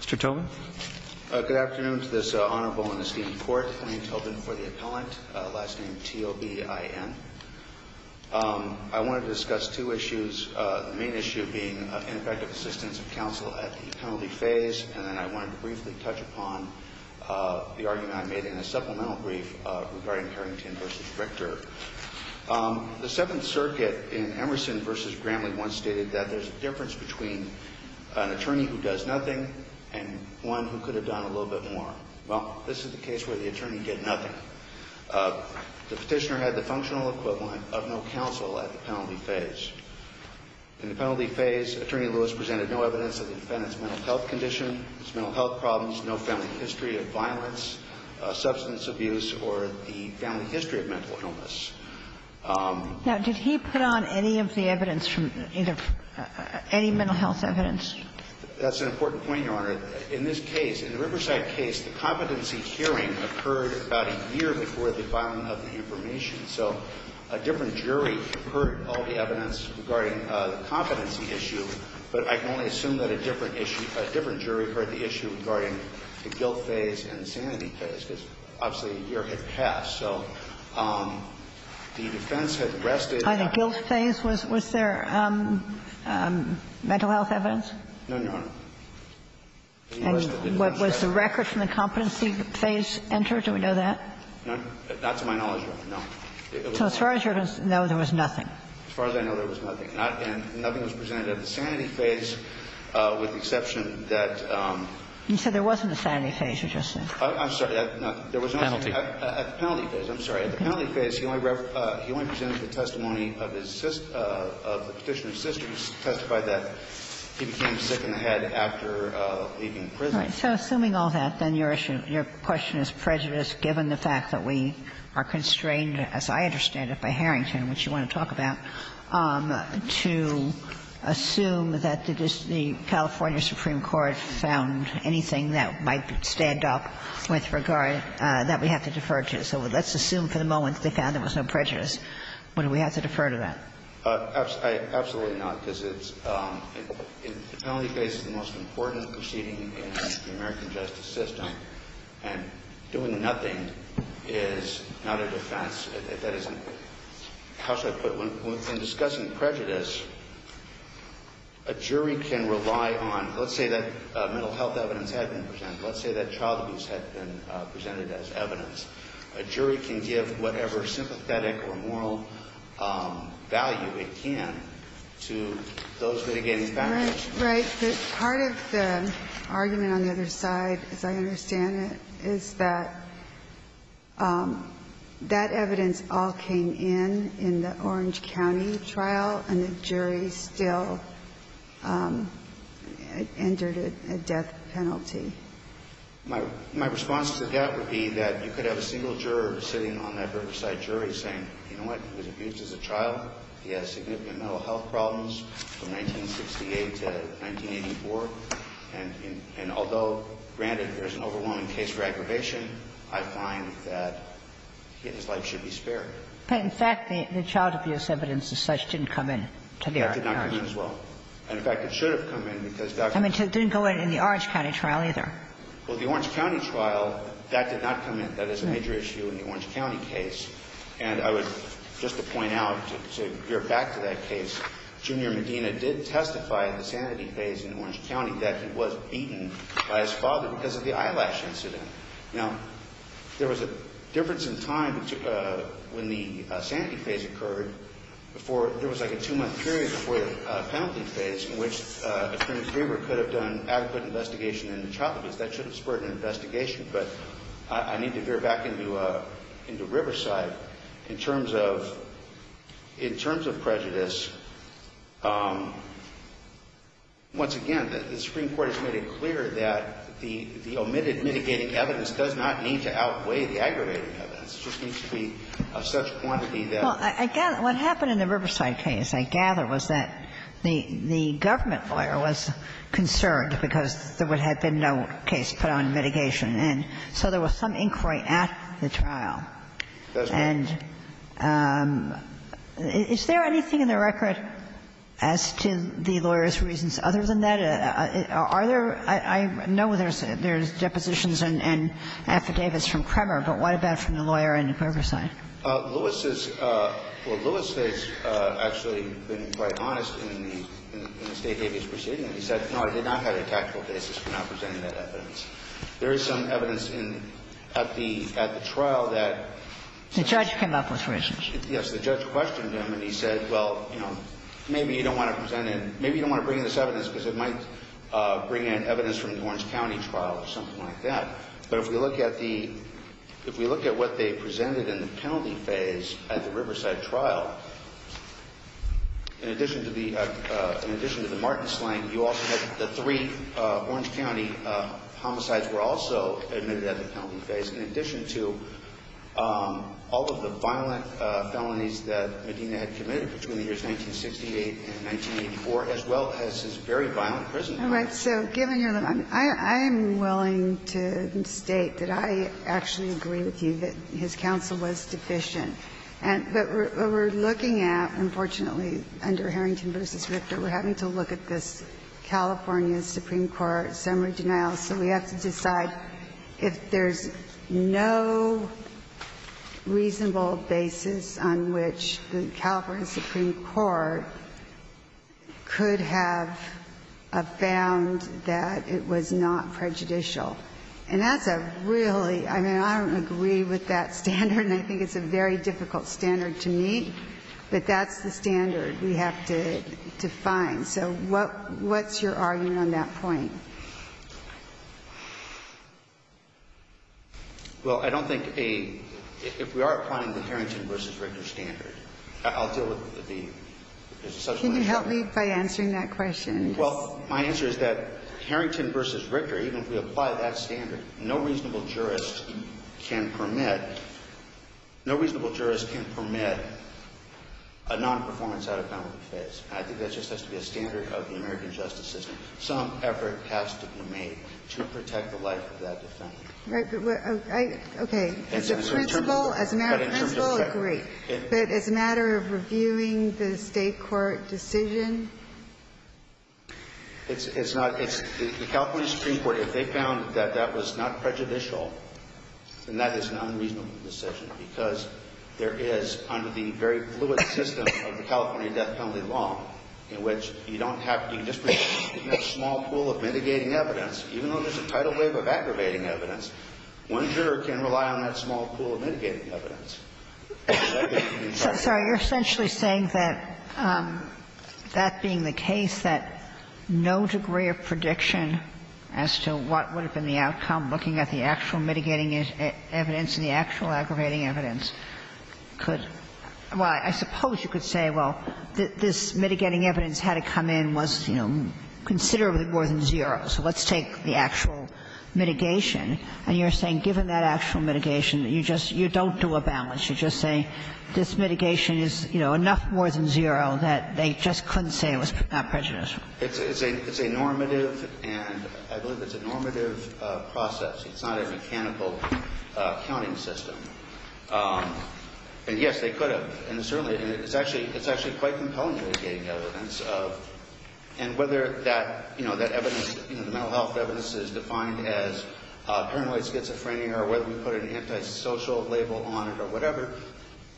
Mr. Tobin. Good afternoon to this honorable and esteemed court. My name is Tony Tobin for the appellant, last name T-O-B-I-N. I want to discuss two issues, the main issue being ineffective assistance of counsel at the penalty phase, and then I want to briefly touch upon the argument I made in a supplemental brief regarding Harrington v. Richter. The Seventh Circuit in Emerson v. Gramley once stated that there's a difference between an attorney who does nothing and one who could have done a little bit more. Well, this is the case where the attorney did nothing. The petitioner had the functional equivalent of no counsel at the penalty phase. In the penalty phase, Attorney Lewis presented no evidence of the defendant's mental health condition, his mental health problems, no family history of violence, substance abuse, or the family history of mental illness. Now, did he put on any of the evidence from either – any mental health evidence? That's an important point, Your Honor. In this case, in the Riverside case, the competency hearing occurred about a year before the filing of the information, so a different jury heard all the evidence regarding the competency issue, but I can only assume that a different issue – a different jury heard the issue regarding the guilt phase and the sanity phase, because obviously a year had passed. So the defense had rested. Either guilt phase, was there mental health evidence? No, Your Honor. And was the record from the competency phase entered? Do we know that? Not to my knowledge, Your Honor, no. So as far as you know, there was nothing. As far as I know, there was nothing. And nothing was presented at the sanity phase with the exception that – You said there wasn't a sanity phase, you just said. I'm sorry. There was nothing. Penalty. At the penalty phase, I'm sorry. At the penalty phase, he only presented the testimony of his – of the Petitioner's sister to testify that he became sick in the head after leaving prison. Right. So assuming all that, then your issue – your question is prejudiced, given the fact that we are constrained, as I understand it, by Harrington, which you want to talk about, to assume that the California Supreme Court found anything that might stand up with regard – that we have to defer to. So let's assume for the moment they found there was no prejudice. Would we have to defer to that? Absolutely not, because it's – the penalty phase is the most important proceeding in the American justice system, and doing nothing is not a defense. That isn't – how should I put it? When discussing prejudice, a jury can rely on – let's say that mental health evidence had been presented. Let's say that child abuse had been presented as evidence. A jury can give whatever sympathetic or moral value it can to those litigating factors. Right. Right. But part of the argument on the other side, as I understand it, is that that evidence all came in in the Orange County trial, and the jury still entered a death penalty. My response to that would be that you could have a single juror sitting on that Riverside jury saying, you know what, he was abused as a trial, he has significant mental health problems from 1968 to 1984, and although, granted, there's an overwhelming case for aggravation, I find that he and his life should be spared. But, in fact, the child abuse evidence as such didn't come in to the Orange County. That did not come in as well. And, in fact, it should have come in, because Dr. Medina – I mean, it didn't go in in the Orange County trial either. Well, the Orange County trial, that did not come in. That is a major issue in the Orange County case. And I would, just to point out, to gear back to that case, Junior Medina did testify in the sanity phase in Orange County that he was beaten by his father because of the eyelash incident. Now, there was a difference in time when the sanity phase occurred before – there was like a two-month period before the penalty phase in which a criminal juror could have done adequate investigation into child abuse. That should have spurred an investigation, but I need to veer back into Riverside. In terms of prejudice, once again, the Supreme Court has made it clear that the omitted mitigating evidence does not need to outweigh the aggravating evidence. It just needs to be of such quantity that – Well, I gather – what happened in the Riverside case, I gather, was that the government lawyer was concerned because there would have been no case put on mitigation. And so there was some inquiry at the trial. That's right. And is there anything in the record as to the lawyer's reasons other than that? Are there – I know there's depositions and affidavits from Kremer, but what about from the lawyer in Riverside? Lewis is – well, Lewis has actually been quite honest in the State Davies proceeding. He said, no, I did not have a tactical basis for not presenting that evidence. There is some evidence in – at the trial that – The judge came up with reasons. Yes. The judge questioned him, and he said, well, you know, maybe you don't want to present – maybe you don't want to bring in this evidence because it might bring in evidence from the Orange County trial or something like that. But if we look at the – if we look at what they presented in the penalty phase at the Riverside trial, in addition to the – in addition to the Martin sling, you also had the three Orange County homicides were also admitted at the penalty phase. In addition to all of the violent felonies that Medina had committed between the years 1968 and 1984, as well as his very violent prison crimes. All right. So given your – I'm willing to state that I actually agree with you that his counsel was deficient. But what we're looking at, unfortunately, under Harrington v. Richter, we're having to look at this California Supreme Court summary denial, so we have to decide whether the Supreme Court could have found that it was not prejudicial. And that's a really – I mean, I don't agree with that standard, and I think it's a very difficult standard to meet. But that's the standard we have to define. So what's your argument on that point? Well, I don't think a – if we are applying the Harrington v. Richter standard I'll deal with the – there's a substantial issue. Can you help me by answering that question? Well, my answer is that Harrington v. Richter, even if we apply that standard, no reasonable jurist can permit – no reasonable jurist can permit a nonperformance at a penalty phase. And I think that just has to be a standard of the American justice system. Some effort has to be made to protect the life of that defendant. Right. But I – okay. As a principal, as an adult principal, I agree. But as a matter of reviewing the State court decision? It's not – it's – the California Supreme Court, if they found that that was not prejudicial, then that is an unreasonable decision. Because there is, under the very fluid system of the California death penalty law, in which you don't have – you just have a small pool of mitigating evidence. Even though there's a tidal wave of aggravating evidence, one juror can rely on that small pool of mitigating evidence. So, sorry. You're essentially saying that, that being the case, that no degree of prediction as to what would have been the outcome, looking at the actual mitigating evidence and the actual aggravating evidence, could – well, I suppose you could say, well, this mitigating evidence had to come in, was, you know, considerably more than zero. So let's take the actual mitigation. And you're saying, given that actual mitigation, you just – you don't do a balance. You're just saying, this mitigation is, you know, enough more than zero that they just couldn't say it was not prejudicial. It's a – it's a normative and – I believe it's a normative process. It's not a mechanical counting system. And yes, they could have. And certainly, it's actually – it's actually quite compelling, mitigating evidence of – and whether that, you know, that evidence, you know, the mental health evidence is defined as paranoid schizophrenia or whether we put an antisocial label on it or whatever.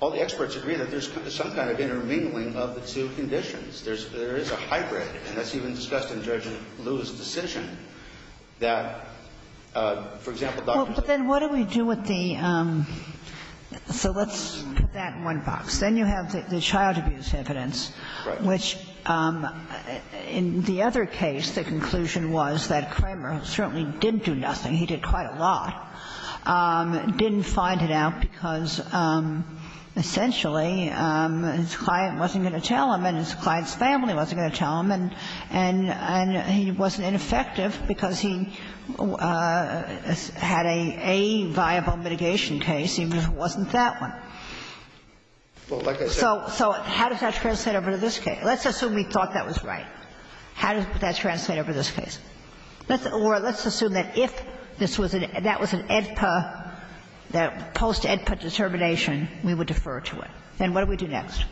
All the experts agree that there's some kind of intermingling of the two conditions. There's – there is a hybrid. And that's even discussed in Judge Liu's decision that, for example, Dr. – Well, but then what do we do with the – so let's put that in one box. Then you have the child abuse evidence, which, in the other case, the conclusion was that Kramer certainly didn't do nothing. He did quite a lot. Didn't find it out because, essentially, his client wasn't going to tell him and his client's family wasn't going to tell him, and he wasn't ineffective because he had a viable mitigation case, even if it wasn't that one. So how does that translate over to this case? Let's assume we thought that was right. How does that translate over to this case? Let's – or let's assume that if this was an – that was an AEDPA – post-AEDPA determination, we would defer to it. Then what do we do next?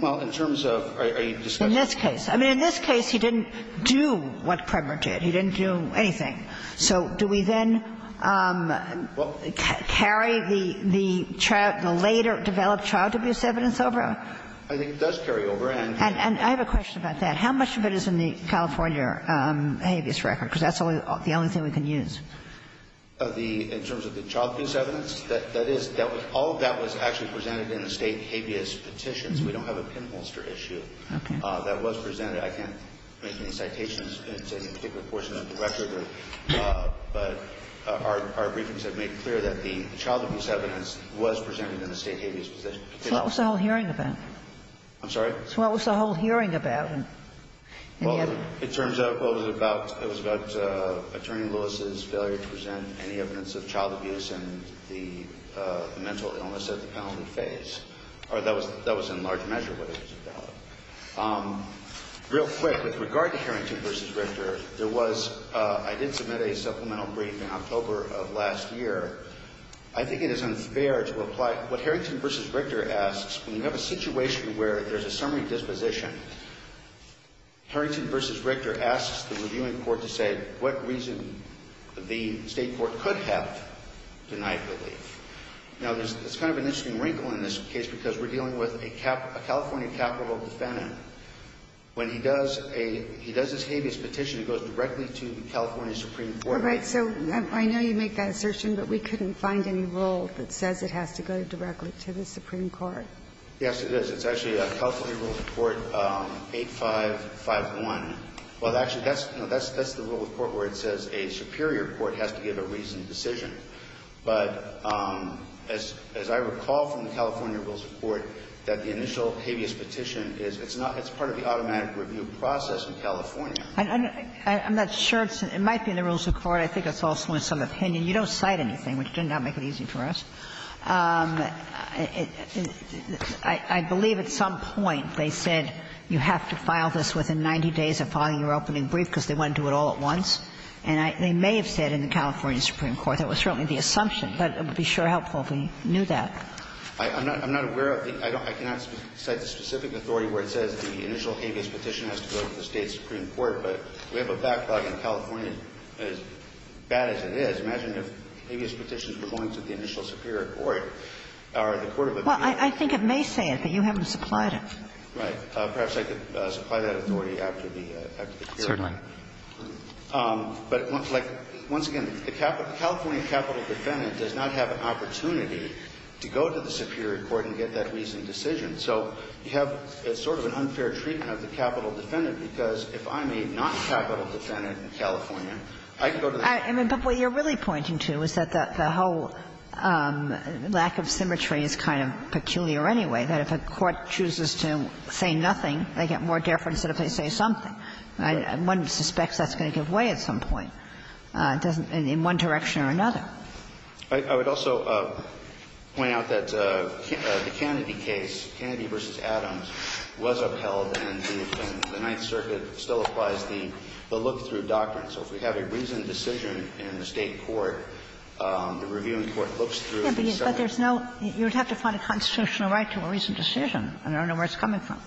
Well, in terms of a discussion of the case. In this case. I mean, in this case, he didn't do what Kramer did. He didn't do anything. So do we then carry the child – the later developed child abuse evidence over? I think it does carry over, and – And I have a question about that. How much of it is in the California habeas record? Because that's the only thing we can use. In terms of the child abuse evidence, that is – all of that was actually presented in the state habeas petition, so we don't have a pinholster issue that was presented. I can't make any citations in any particular portion of the record, but our briefings have made clear that the child abuse evidence was presented in the state habeas petition. So what was the whole hearing about? I'm sorry? So what was the whole hearing about? Well, it turns out it was about Attorney Lewis's failure to present any evidence of child abuse in the mental illness at the penalty phase. Or that was in large measure what it was about. Real quick, with regard to Harrington v. Richter, there was – I did submit a supplemental brief in October of last year. I think it is unfair to apply – what Harrington v. Richter asks, when you have a situation where there's a summary disposition, Harrington v. Richter asks the reviewing court to say what reason the State court could have denied relief. Now, there's kind of an interesting wrinkle in this case because we're dealing with a California capital defendant. When he does a – he does his habeas petition, it goes directly to the California Supreme Court. All right. So I know you make that assertion, but we couldn't find any rule that says it has to go directly to the Supreme Court. Yes, it does. It's actually California Rule of Court 8551. Well, actually, that's the rule of court where it says a superior court has to give a reasoned decision. But as I recall from the California Rules of Court, that the initial habeas petition is – it's not – it's part of the automatic review process in California. I'm not sure. It might be in the Rules of Court. I think it's also in some opinion. You don't cite anything, which did not make it easy for us. I believe at some point they said you have to file this within 90 days of filing your opening brief because they want to do it all at once. And I – they may have said in the California Supreme Court. That was certainly the assumption, but it would be sure helpful if we knew that. I'm not aware of the – I cannot cite the specific authority where it says the initial habeas petition has to go to the State Supreme Court. But we have a backlog in California as bad as it is. I imagine if habeas petitions were going to the initial superior court, or the court of appeals. Well, I think it may say it, but you haven't supplied it. Right. Perhaps I could supply that authority after the hearing. Certainly. But, like, once again, the California capital defendant does not have an opportunity to go to the superior court and get that reasoned decision. So you have sort of an unfair treatment of the capital defendant because if I'm a not capital defendant in California, I can go to the Superior Court. But what you're really pointing to is that the whole lack of symmetry is kind of peculiar anyway, that if a court chooses to say nothing, they get more deference than if they say something. One suspects that's going to give way at some point, in one direction or another. I would also point out that the Kennedy case, Kennedy v. Adams, was upheld and the Ninth Circuit still applies the look-through doctrine. So if we have a reasoned decision in the State court, the reviewing court looks through the summary. But there's no – you would have to find a constitutional right to a reasoned decision. I don't know where it's coming from.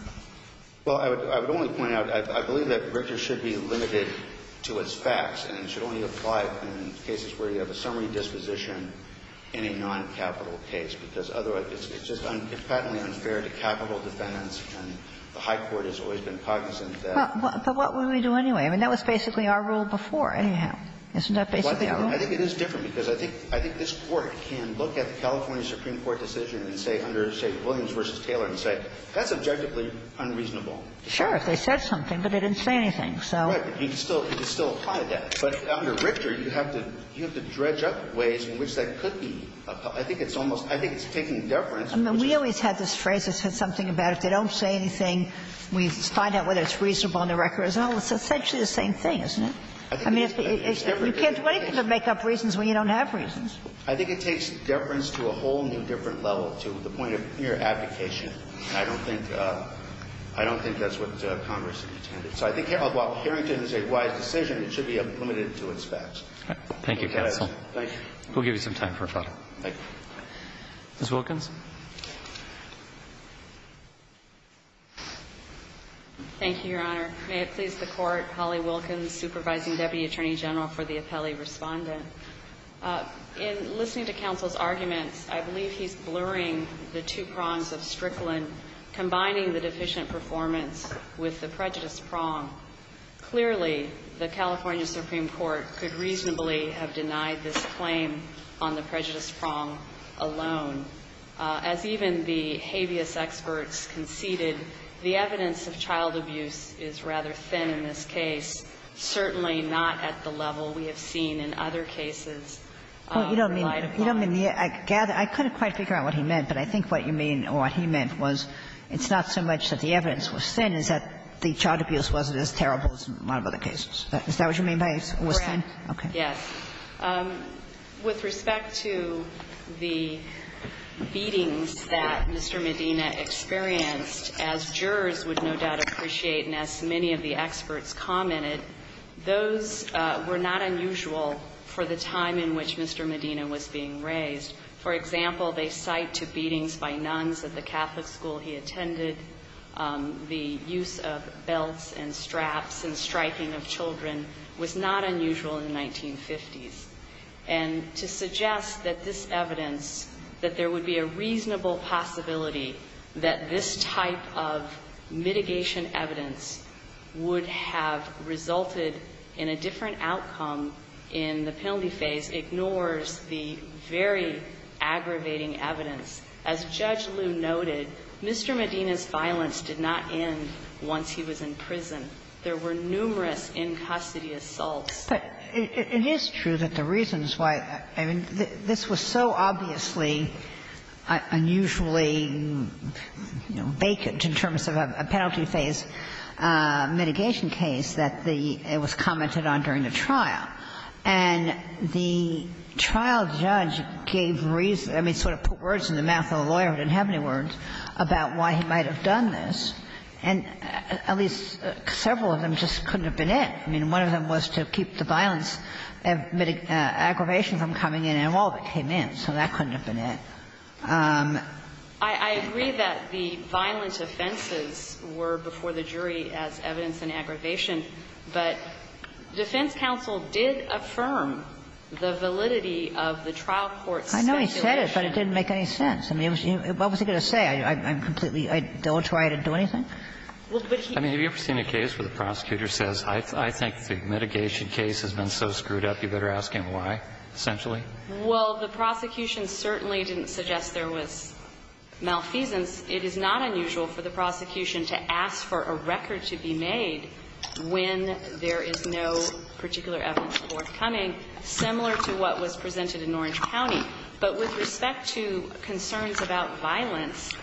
Well, I would only point out, I believe that Richter should be limited to its facts and it should only apply in cases where you have a summary disposition in a noncapital case, because otherwise it's just uncompetently unfair to capital defendants and the high court has always been cognizant of that. But what would we do anyway? I mean, that was basically our rule before, anyhow. Isn't that basically our rule? Well, I think it is different, because I think this Court can look at the California Supreme Court decision and say under, say, Williams v. Taylor and say, that's objectively unreasonable. Sure, if they said something, but they didn't say anything. So you can still apply that. But under Richter, you have to dredge up ways in which that could be. I think it's almost – I think it's taking deference. I mean, we always had this phrase that said something about if they don't say anything, we find out whether it's reasonable on the record. Well, it's essentially the same thing, isn't it? I mean, you can't do anything but make up reasons when you don't have reasons. I think it takes deference to a whole new different level, to the point of mere abdication. I don't think – I don't think that's what Congress intended. So I think while Harrington is a wise decision, it should be limited to its facts. Thank you, counsel. We'll give you some time for a follow-up. Ms. Wilkins. Thank you, Your Honor. May it please the Court, Holly Wilkins, Supervising Deputy Attorney General for the Appellee Respondent. In listening to counsel's arguments, I believe he's blurring the two prongs of Strickland, combining the deficient performance with the prejudice prong. Clearly, the California Supreme Court could reasonably have denied this claim on the prejudice prong alone. As even the habeas experts conceded, the evidence of child abuse is rather thin in this case, certainly not at the level we have seen in other cases relied upon. Well, you don't mean – you don't mean the – I gather – I couldn't quite figure out what he meant, but I think what you mean, or what he meant, was it's not so much that the evidence was thin as that the child abuse wasn't as terrible as in a lot of other cases. Is that what you mean by it was thin? Correct. Yes. With respect to the beatings that Mr. Medina experienced, as jurors would no doubt appreciate and as many of the experts commented, those were not unusual for the time in which Mr. Medina was being raised. For example, the site to beatings by nuns at the Catholic school he attended, the use of belts and straps and striking of children was not unusual in the 1950s. And to suggest that this evidence, that there would be a reasonable possibility that this type of mitigation evidence would have resulted in a different outcome in the penalty phase ignores the very aggravating evidence. As Judge Liu noted, Mr. Medina's violence did not end once he was in prison. There were numerous in-custody assaults. But it is true that the reasons why – I mean, this was so obviously unusually, you know, vacant in terms of a penalty phase mitigation case that the – it was commented on during the trial. And the trial judge gave reason – I mean, sort of put words in the mouth of a lawyer who didn't have any words about why he might have done this. And at least several of them just couldn't have been it. I mean, one of them was to keep the violence – aggravation from coming in, and all of it came in. So that couldn't have been it. I agree that the violent offenses were before the jury as evidence in aggravation, but defense counsel did affirm the validity of the trial court's speculation. I know he said it, but it didn't make any sense. I mean, what was he going to say? I'm completely – I don't try to do anything? Well, but he – I mean, have you ever seen a case where the prosecutor says, I think the mitigation case has been so screwed up, you better ask him why, essentially? Well, the prosecution certainly didn't suggest there was malfeasance. It is not unusual for the prosecution to ask for a record to be made when there is no particular evidence forthcoming, similar to what was presented in Orange County. But with respect to concerns about violence,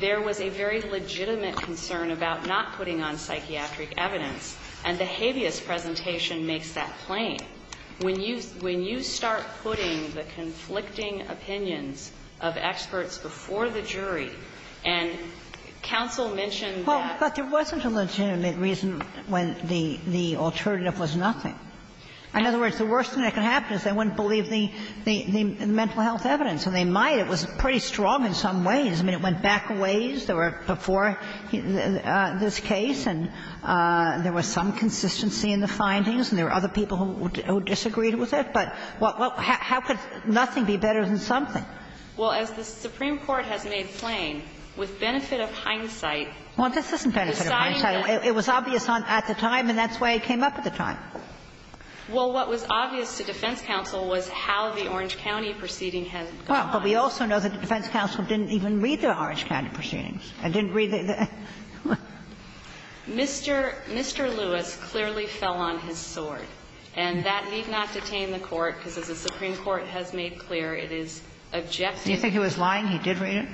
there was a very legitimate concern about not putting on psychiatric evidence. And the habeas presentation makes that plain. When you – when you start putting the conflicting opinions of experts before the jury, and counsel mentioned that. Well, but there wasn't a legitimate reason when the alternative was nothing. In other words, the worst thing that could happen is they wouldn't believe the mental health evidence. And they might. It was pretty strong in some ways. I mean, it went back a ways. There were before this case, and there was some consistency in the findings, and there were other people who disagreed with it. But what – how could nothing be better than something? Well, as the Supreme Court has made plain, with benefit of hindsight. Well, this isn't benefit of hindsight. It was obvious at the time, and that's why it came up at the time. Well, what was obvious to defense counsel was how the Orange County proceeding had gone. Well, but we also know that the defense counsel didn't even read the Orange County proceedings and didn't read the – the – Mr. Lewis clearly fell on his sword. And that need not detain the Court, because as the Supreme Court has made clear, it is objective. Do you think he was lying? He did read it?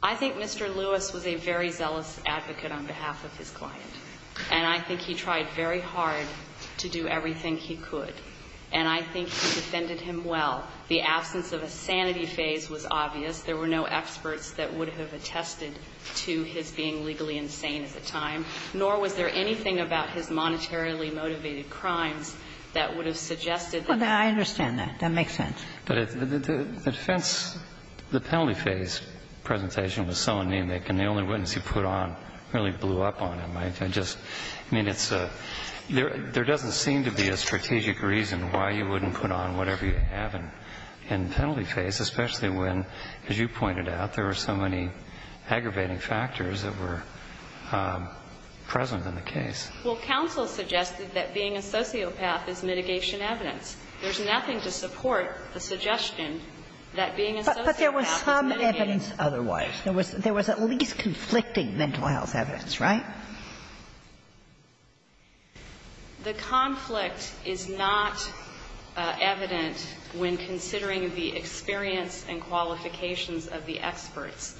I think Mr. Lewis was a very zealous advocate on behalf of his client. And I think he tried very hard to do everything he could. And I think he defended him well. The absence of a sanity phase was obvious. There were no experts that would have attested to his being legally insane at the time, nor was there anything about his monetarily motivated crimes that would have suggested that. Well, I understand that. That makes sense. But the defense – the penalty phase presentation was so anemic, and the only witness he put on really blew up on him. I just – I mean, it's a – there doesn't seem to be a strategic reason why you wouldn't put on whatever you have in penalty phase, especially when, as you pointed out, there were so many aggravating factors that were present in the case. Well, counsel suggested that being a sociopath is mitigation evidence. There's nothing to support the suggestion that being a sociopath is mitigating evidence. But there was some evidence otherwise. There was at least conflicting mental health evidence, right? The conflict is not evident when considering the experience and qualifications of the experts.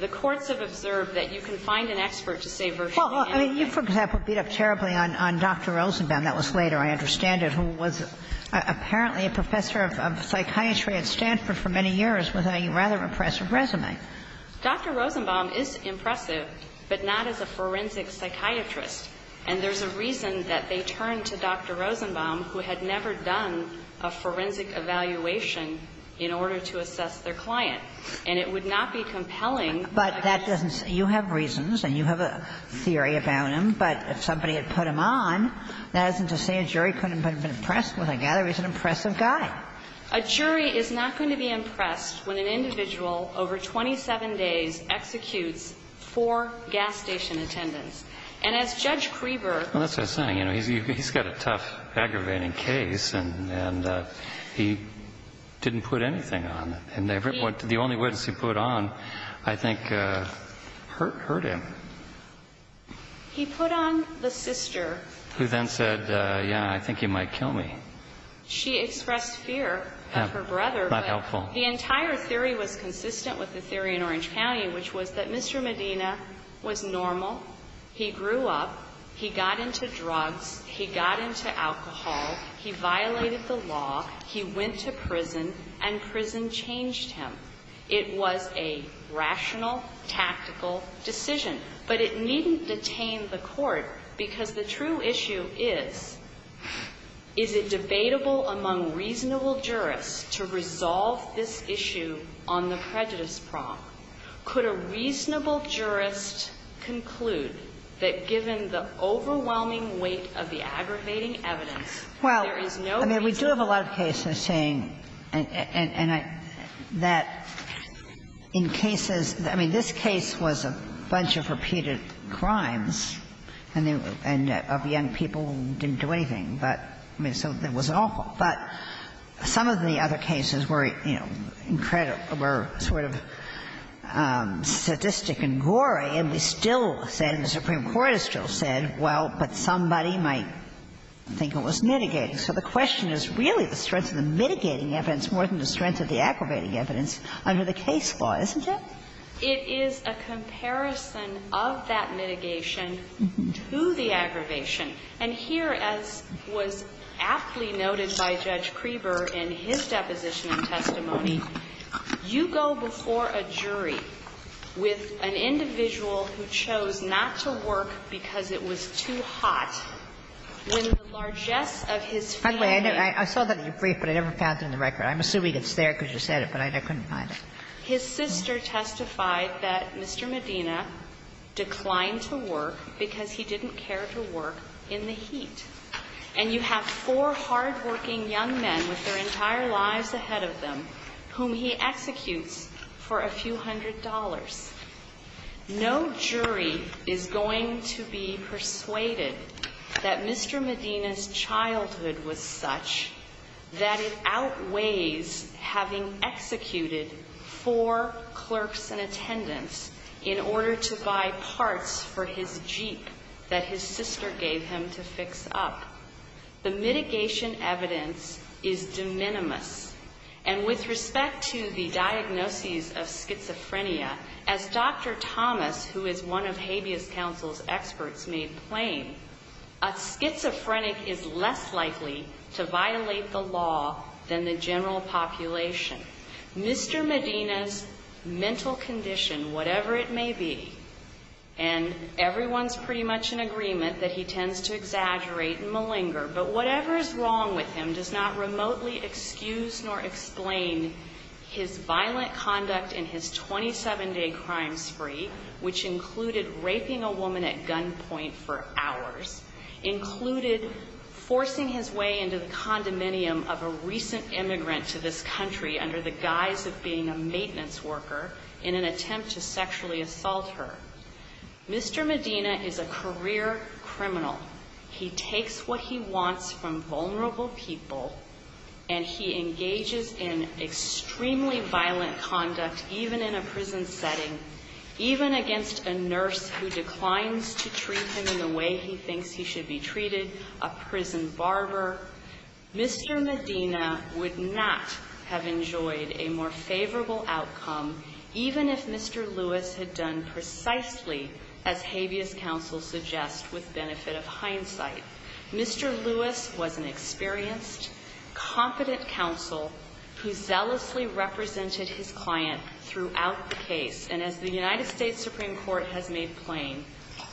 The courts have observed that you can find an expert to say virtually anything. Well, I mean, you, for example, beat up terribly on Dr. Rosenbaum. That was later, I understand it, who was apparently a professor of psychiatry at Stanford for many years with a rather impressive resume. Dr. Rosenbaum is impressive, but not as a forensic psychiatrist. And there's a reason that they turned to Dr. Rosenbaum, who had never done a forensic evaluation in order to assess their client. And it would not be compelling. But that doesn't – you have reasons and you have a theory about him. But if somebody had put him on, that isn't to say a jury couldn't have been impressed with a guy. He's an impressive guy. A jury is not going to be impressed when an individual over 27 days executes four gas station attendants. And as Judge Creever – Well, that's what I'm saying. He's got a tough, aggravating case, and he didn't put anything on. And the only witness he put on, I think, hurt him. He put on the sister. Who then said, yeah, I think you might kill me. She expressed fear of her brother. Not helpful. The entire theory was consistent with the theory in Orange County, which was that Mr. Medina was normal. He grew up. He got into drugs. He got into alcohol. He violated the law. He went to prison, and prison changed him. It was a rational, tactical decision. But it needn't detain the Court, because the true issue is, is it debatable among reasonable jurists to resolve this issue on the prejudice prong? Could a reasonable jurist conclude that given the overwhelming weight of the aggravating evidence, there is no reason – Well, I mean, we do have a lot of cases saying that in cases – I mean, this case was a bunch of repeated crimes, and of young people who didn't do anything. But, I mean, so it wasn't awful. But some of the other cases were, you know, incredible, were sort of sadistic and gory, and we still said, the Supreme Court has still said, well, but somebody might think it was mitigating. So the question is really the strength of the mitigating evidence more than the strength of the aggravating evidence under the case law, isn't it? It is a comparison of that mitigation to the aggravation. And here, as was aptly noted by Judge Kreeber in his deposition and testimony, you go before a jury with an individual who chose not to work because it was too hot when the largesse of his family – By the way, I saw that in your brief, but I never found it in the record. I'm assuming it's there because you said it, but I couldn't find it. His sister testified that Mr. Medina declined to work because he didn't care to work in the heat. And you have four hardworking young men with their entire lives ahead of them whom he executes for a few hundred dollars. No jury is going to be persuaded that Mr. Medina's childhood was such that it outweighs having executed four clerks in attendance in order to buy parts for his Jeep that his sister gave him to fix up. The mitigation evidence is de minimis. And with respect to the diagnoses of schizophrenia, as Dr. Thomas, who is one of habeas counsel's experts, made plain, a schizophrenic is less likely to violate the law than the general population. Mr. Medina's mental condition, whatever it may be, and everyone's pretty much in agreement that he tends to exaggerate and malinger, but whatever is wrong with him does not remotely excuse nor explain his violent conduct in his 27-day crime spree, which included raping a woman at gunpoint for hours, included forcing his way into the condominium of a recent immigrant to this country under the guise of being a maintenance worker in an attempt to sexually assault her. Mr. Medina is a career criminal. He takes what he wants from vulnerable people and he engages in extremely violent conduct, even in a prison setting, even against a nurse who declines to treat him in the way he thinks he should be treated, a prison barber. Mr. Medina would not have enjoyed a more favorable outcome even if Mr. Lewis had done precisely as habeas counsel suggests with benefit of hindsight. Mr. Lewis was an experienced, competent counsel who zealously represented his client throughout the case. And as the United States Supreme Court has made plain,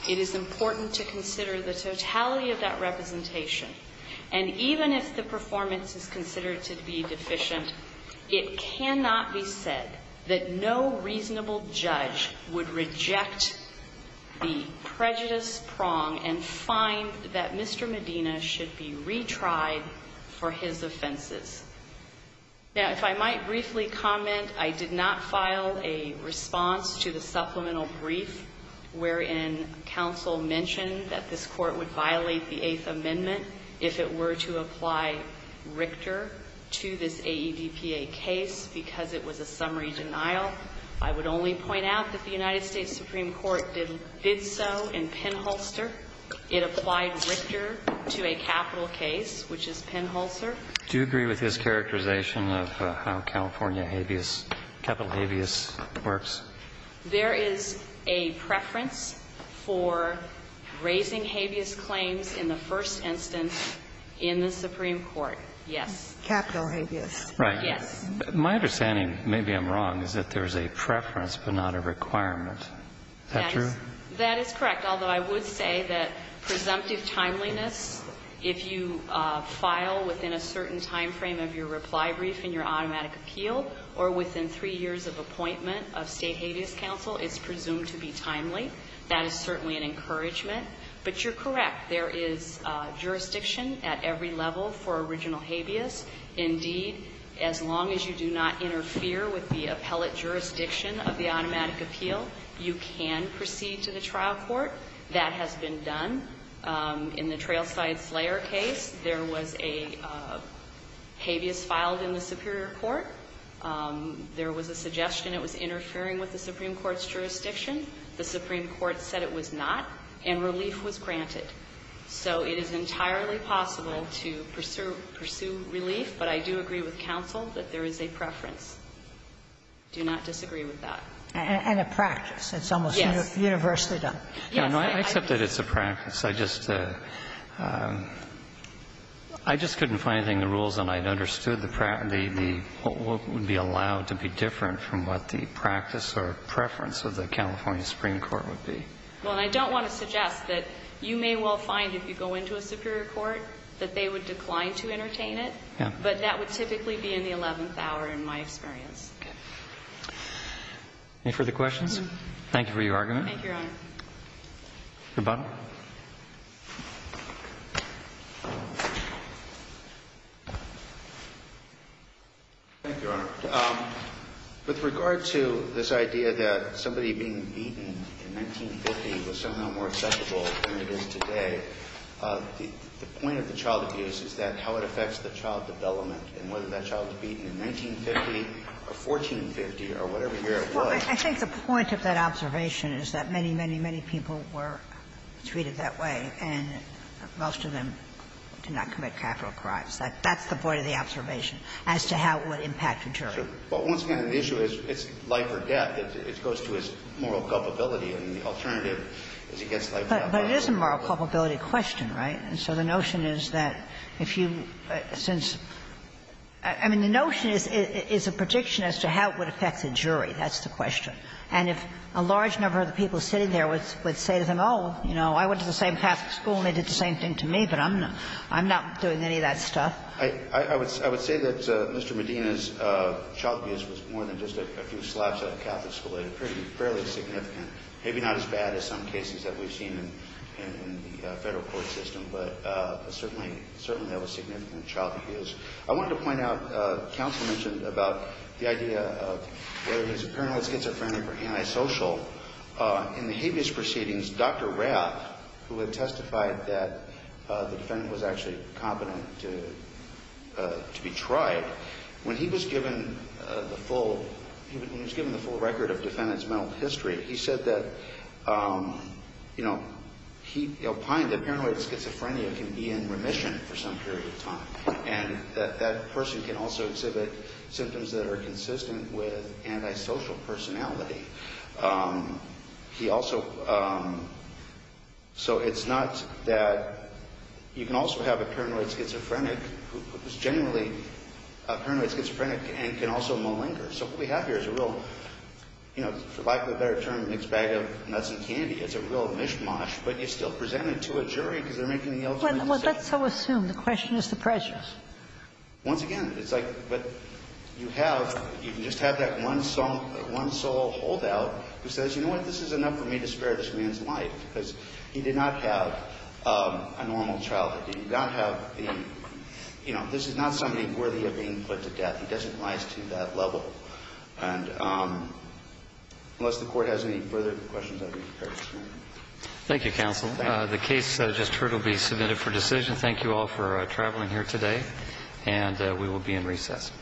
it is important to consider the totality of that representation. And even if the performance is considered to be deficient, it cannot be said that no reasonable judge would reject the prejudice prong and find that Mr. Medina should be retried for his offenses. Now, if I might briefly comment, I did not file a response to the supplemental brief wherein counsel mentioned that this court would violate the Eighth Amendment if it were to apply Richter to this AEDPA case because it was a summary denial. I would only point out that the United States Supreme Court did so in Penholster. It applied Richter to a capital case, which is Penholster. Do you agree with his characterization of how California habeas, capital habeas works? There is a preference for raising habeas claims in the first instance in the Supreme Court, yes. Capital habeas. Right. Yes. My understanding, maybe I'm wrong, is that there is a preference but not a requirement. Is that true? That is correct, although I would say that presumptive timeliness, if you file within a certain time frame of your reply brief in your automatic appeal or within three years of appointment of state habeas counsel, it's presumed to be timely. That is certainly an encouragement. But you're correct. There is jurisdiction at every level for original habeas. Indeed, as long as you do not interfere with the appellate jurisdiction of the automatic appeal, you can proceed to the trial court. That has been done. In the Trailside Slayer case, there was a habeas filed in the Superior Court. There was a suggestion it was interfering with the Supreme Court's jurisdiction. The Supreme Court said it was not, and relief was granted. So it is entirely possible to pursue relief, but I do agree with counsel that there is a preference. I do not disagree with that. And a practice. It's almost universally done. Yes. I accept that it's a practice. I just couldn't find anything in the rules, and I understood what would be allowed to be different from what the practice or preference of the California Supreme Court would be. Well, and I don't want to suggest that you may well find, if you go into a Superior Court, that they would decline to entertain it. Yeah. But that would typically be in the 11th hour, in my experience. Okay. Any further questions? Thank you for your argument. Thank you, Your Honor. Mr. Bonner. Thank you, Your Honor. With regard to this idea that somebody being beaten in 1950 was somehow more acceptable than it is today, the point of the child abuse is that how it affects the child development, and whether that child is beaten in 1950 or 1450 or whatever year it was. Well, I think the point of that observation is that many, many, many people were treated that way, and most of them did not commit capital crimes. That's the point of the observation as to how it would impact a jury. Sure. But once again, the issue is it's life or death. It goes to his moral culpability, and the alternative is against life or death. But it is a moral culpability question, right? And so the notion is that if you, since the notion is a prediction as to how it would affect the child development, it's a moral culpability question. And if a large number of the people sitting there would say to them, oh, you know, I went to the same Catholic school and they did the same thing to me, but I'm not doing any of that stuff. I would say that Mr. Medina's child abuse was more than just a few slaps at a Catholic school. It was fairly significant, maybe not as bad as some cases that we've seen in the Federal court system. But certainly that was significant child abuse. I wanted to point out, counsel mentioned about the idea of whether he's a paranoid schizophrenic or antisocial. In the habeas proceedings, Dr. Rath, who had testified that the defendant was actually competent to be tried, when he was given the full record of the defendant's criminal history, he said that, you know, he opined that paranoid schizophrenia can be in remission for some period of time. And that that person can also exhibit symptoms that are consistent with antisocial personality. He also, so it's not that you can also have a paranoid schizophrenic who is genuinely a paranoid schizophrenic and can also malinger. So what we have here is a real, you know, for lack of a better term, mixed bag of nuts and candy. It's a real mishmash. But it's still presented to a jury because they're making the ultimate decision. Well, let's so assume. The question is the pressure. Once again, it's like what you have, you can just have that one sole holdout who says, you know what, this is enough for me to spare this man's life because he did not have a normal childhood. He did not have the, you know, this is not somebody worthy of being put to death. He doesn't rise to that level. And unless the court has any further questions, I'd be prepared to stand. Thank you, counsel. The case just heard will be submitted for decision. Thank you all for traveling here today. And we will be in recess.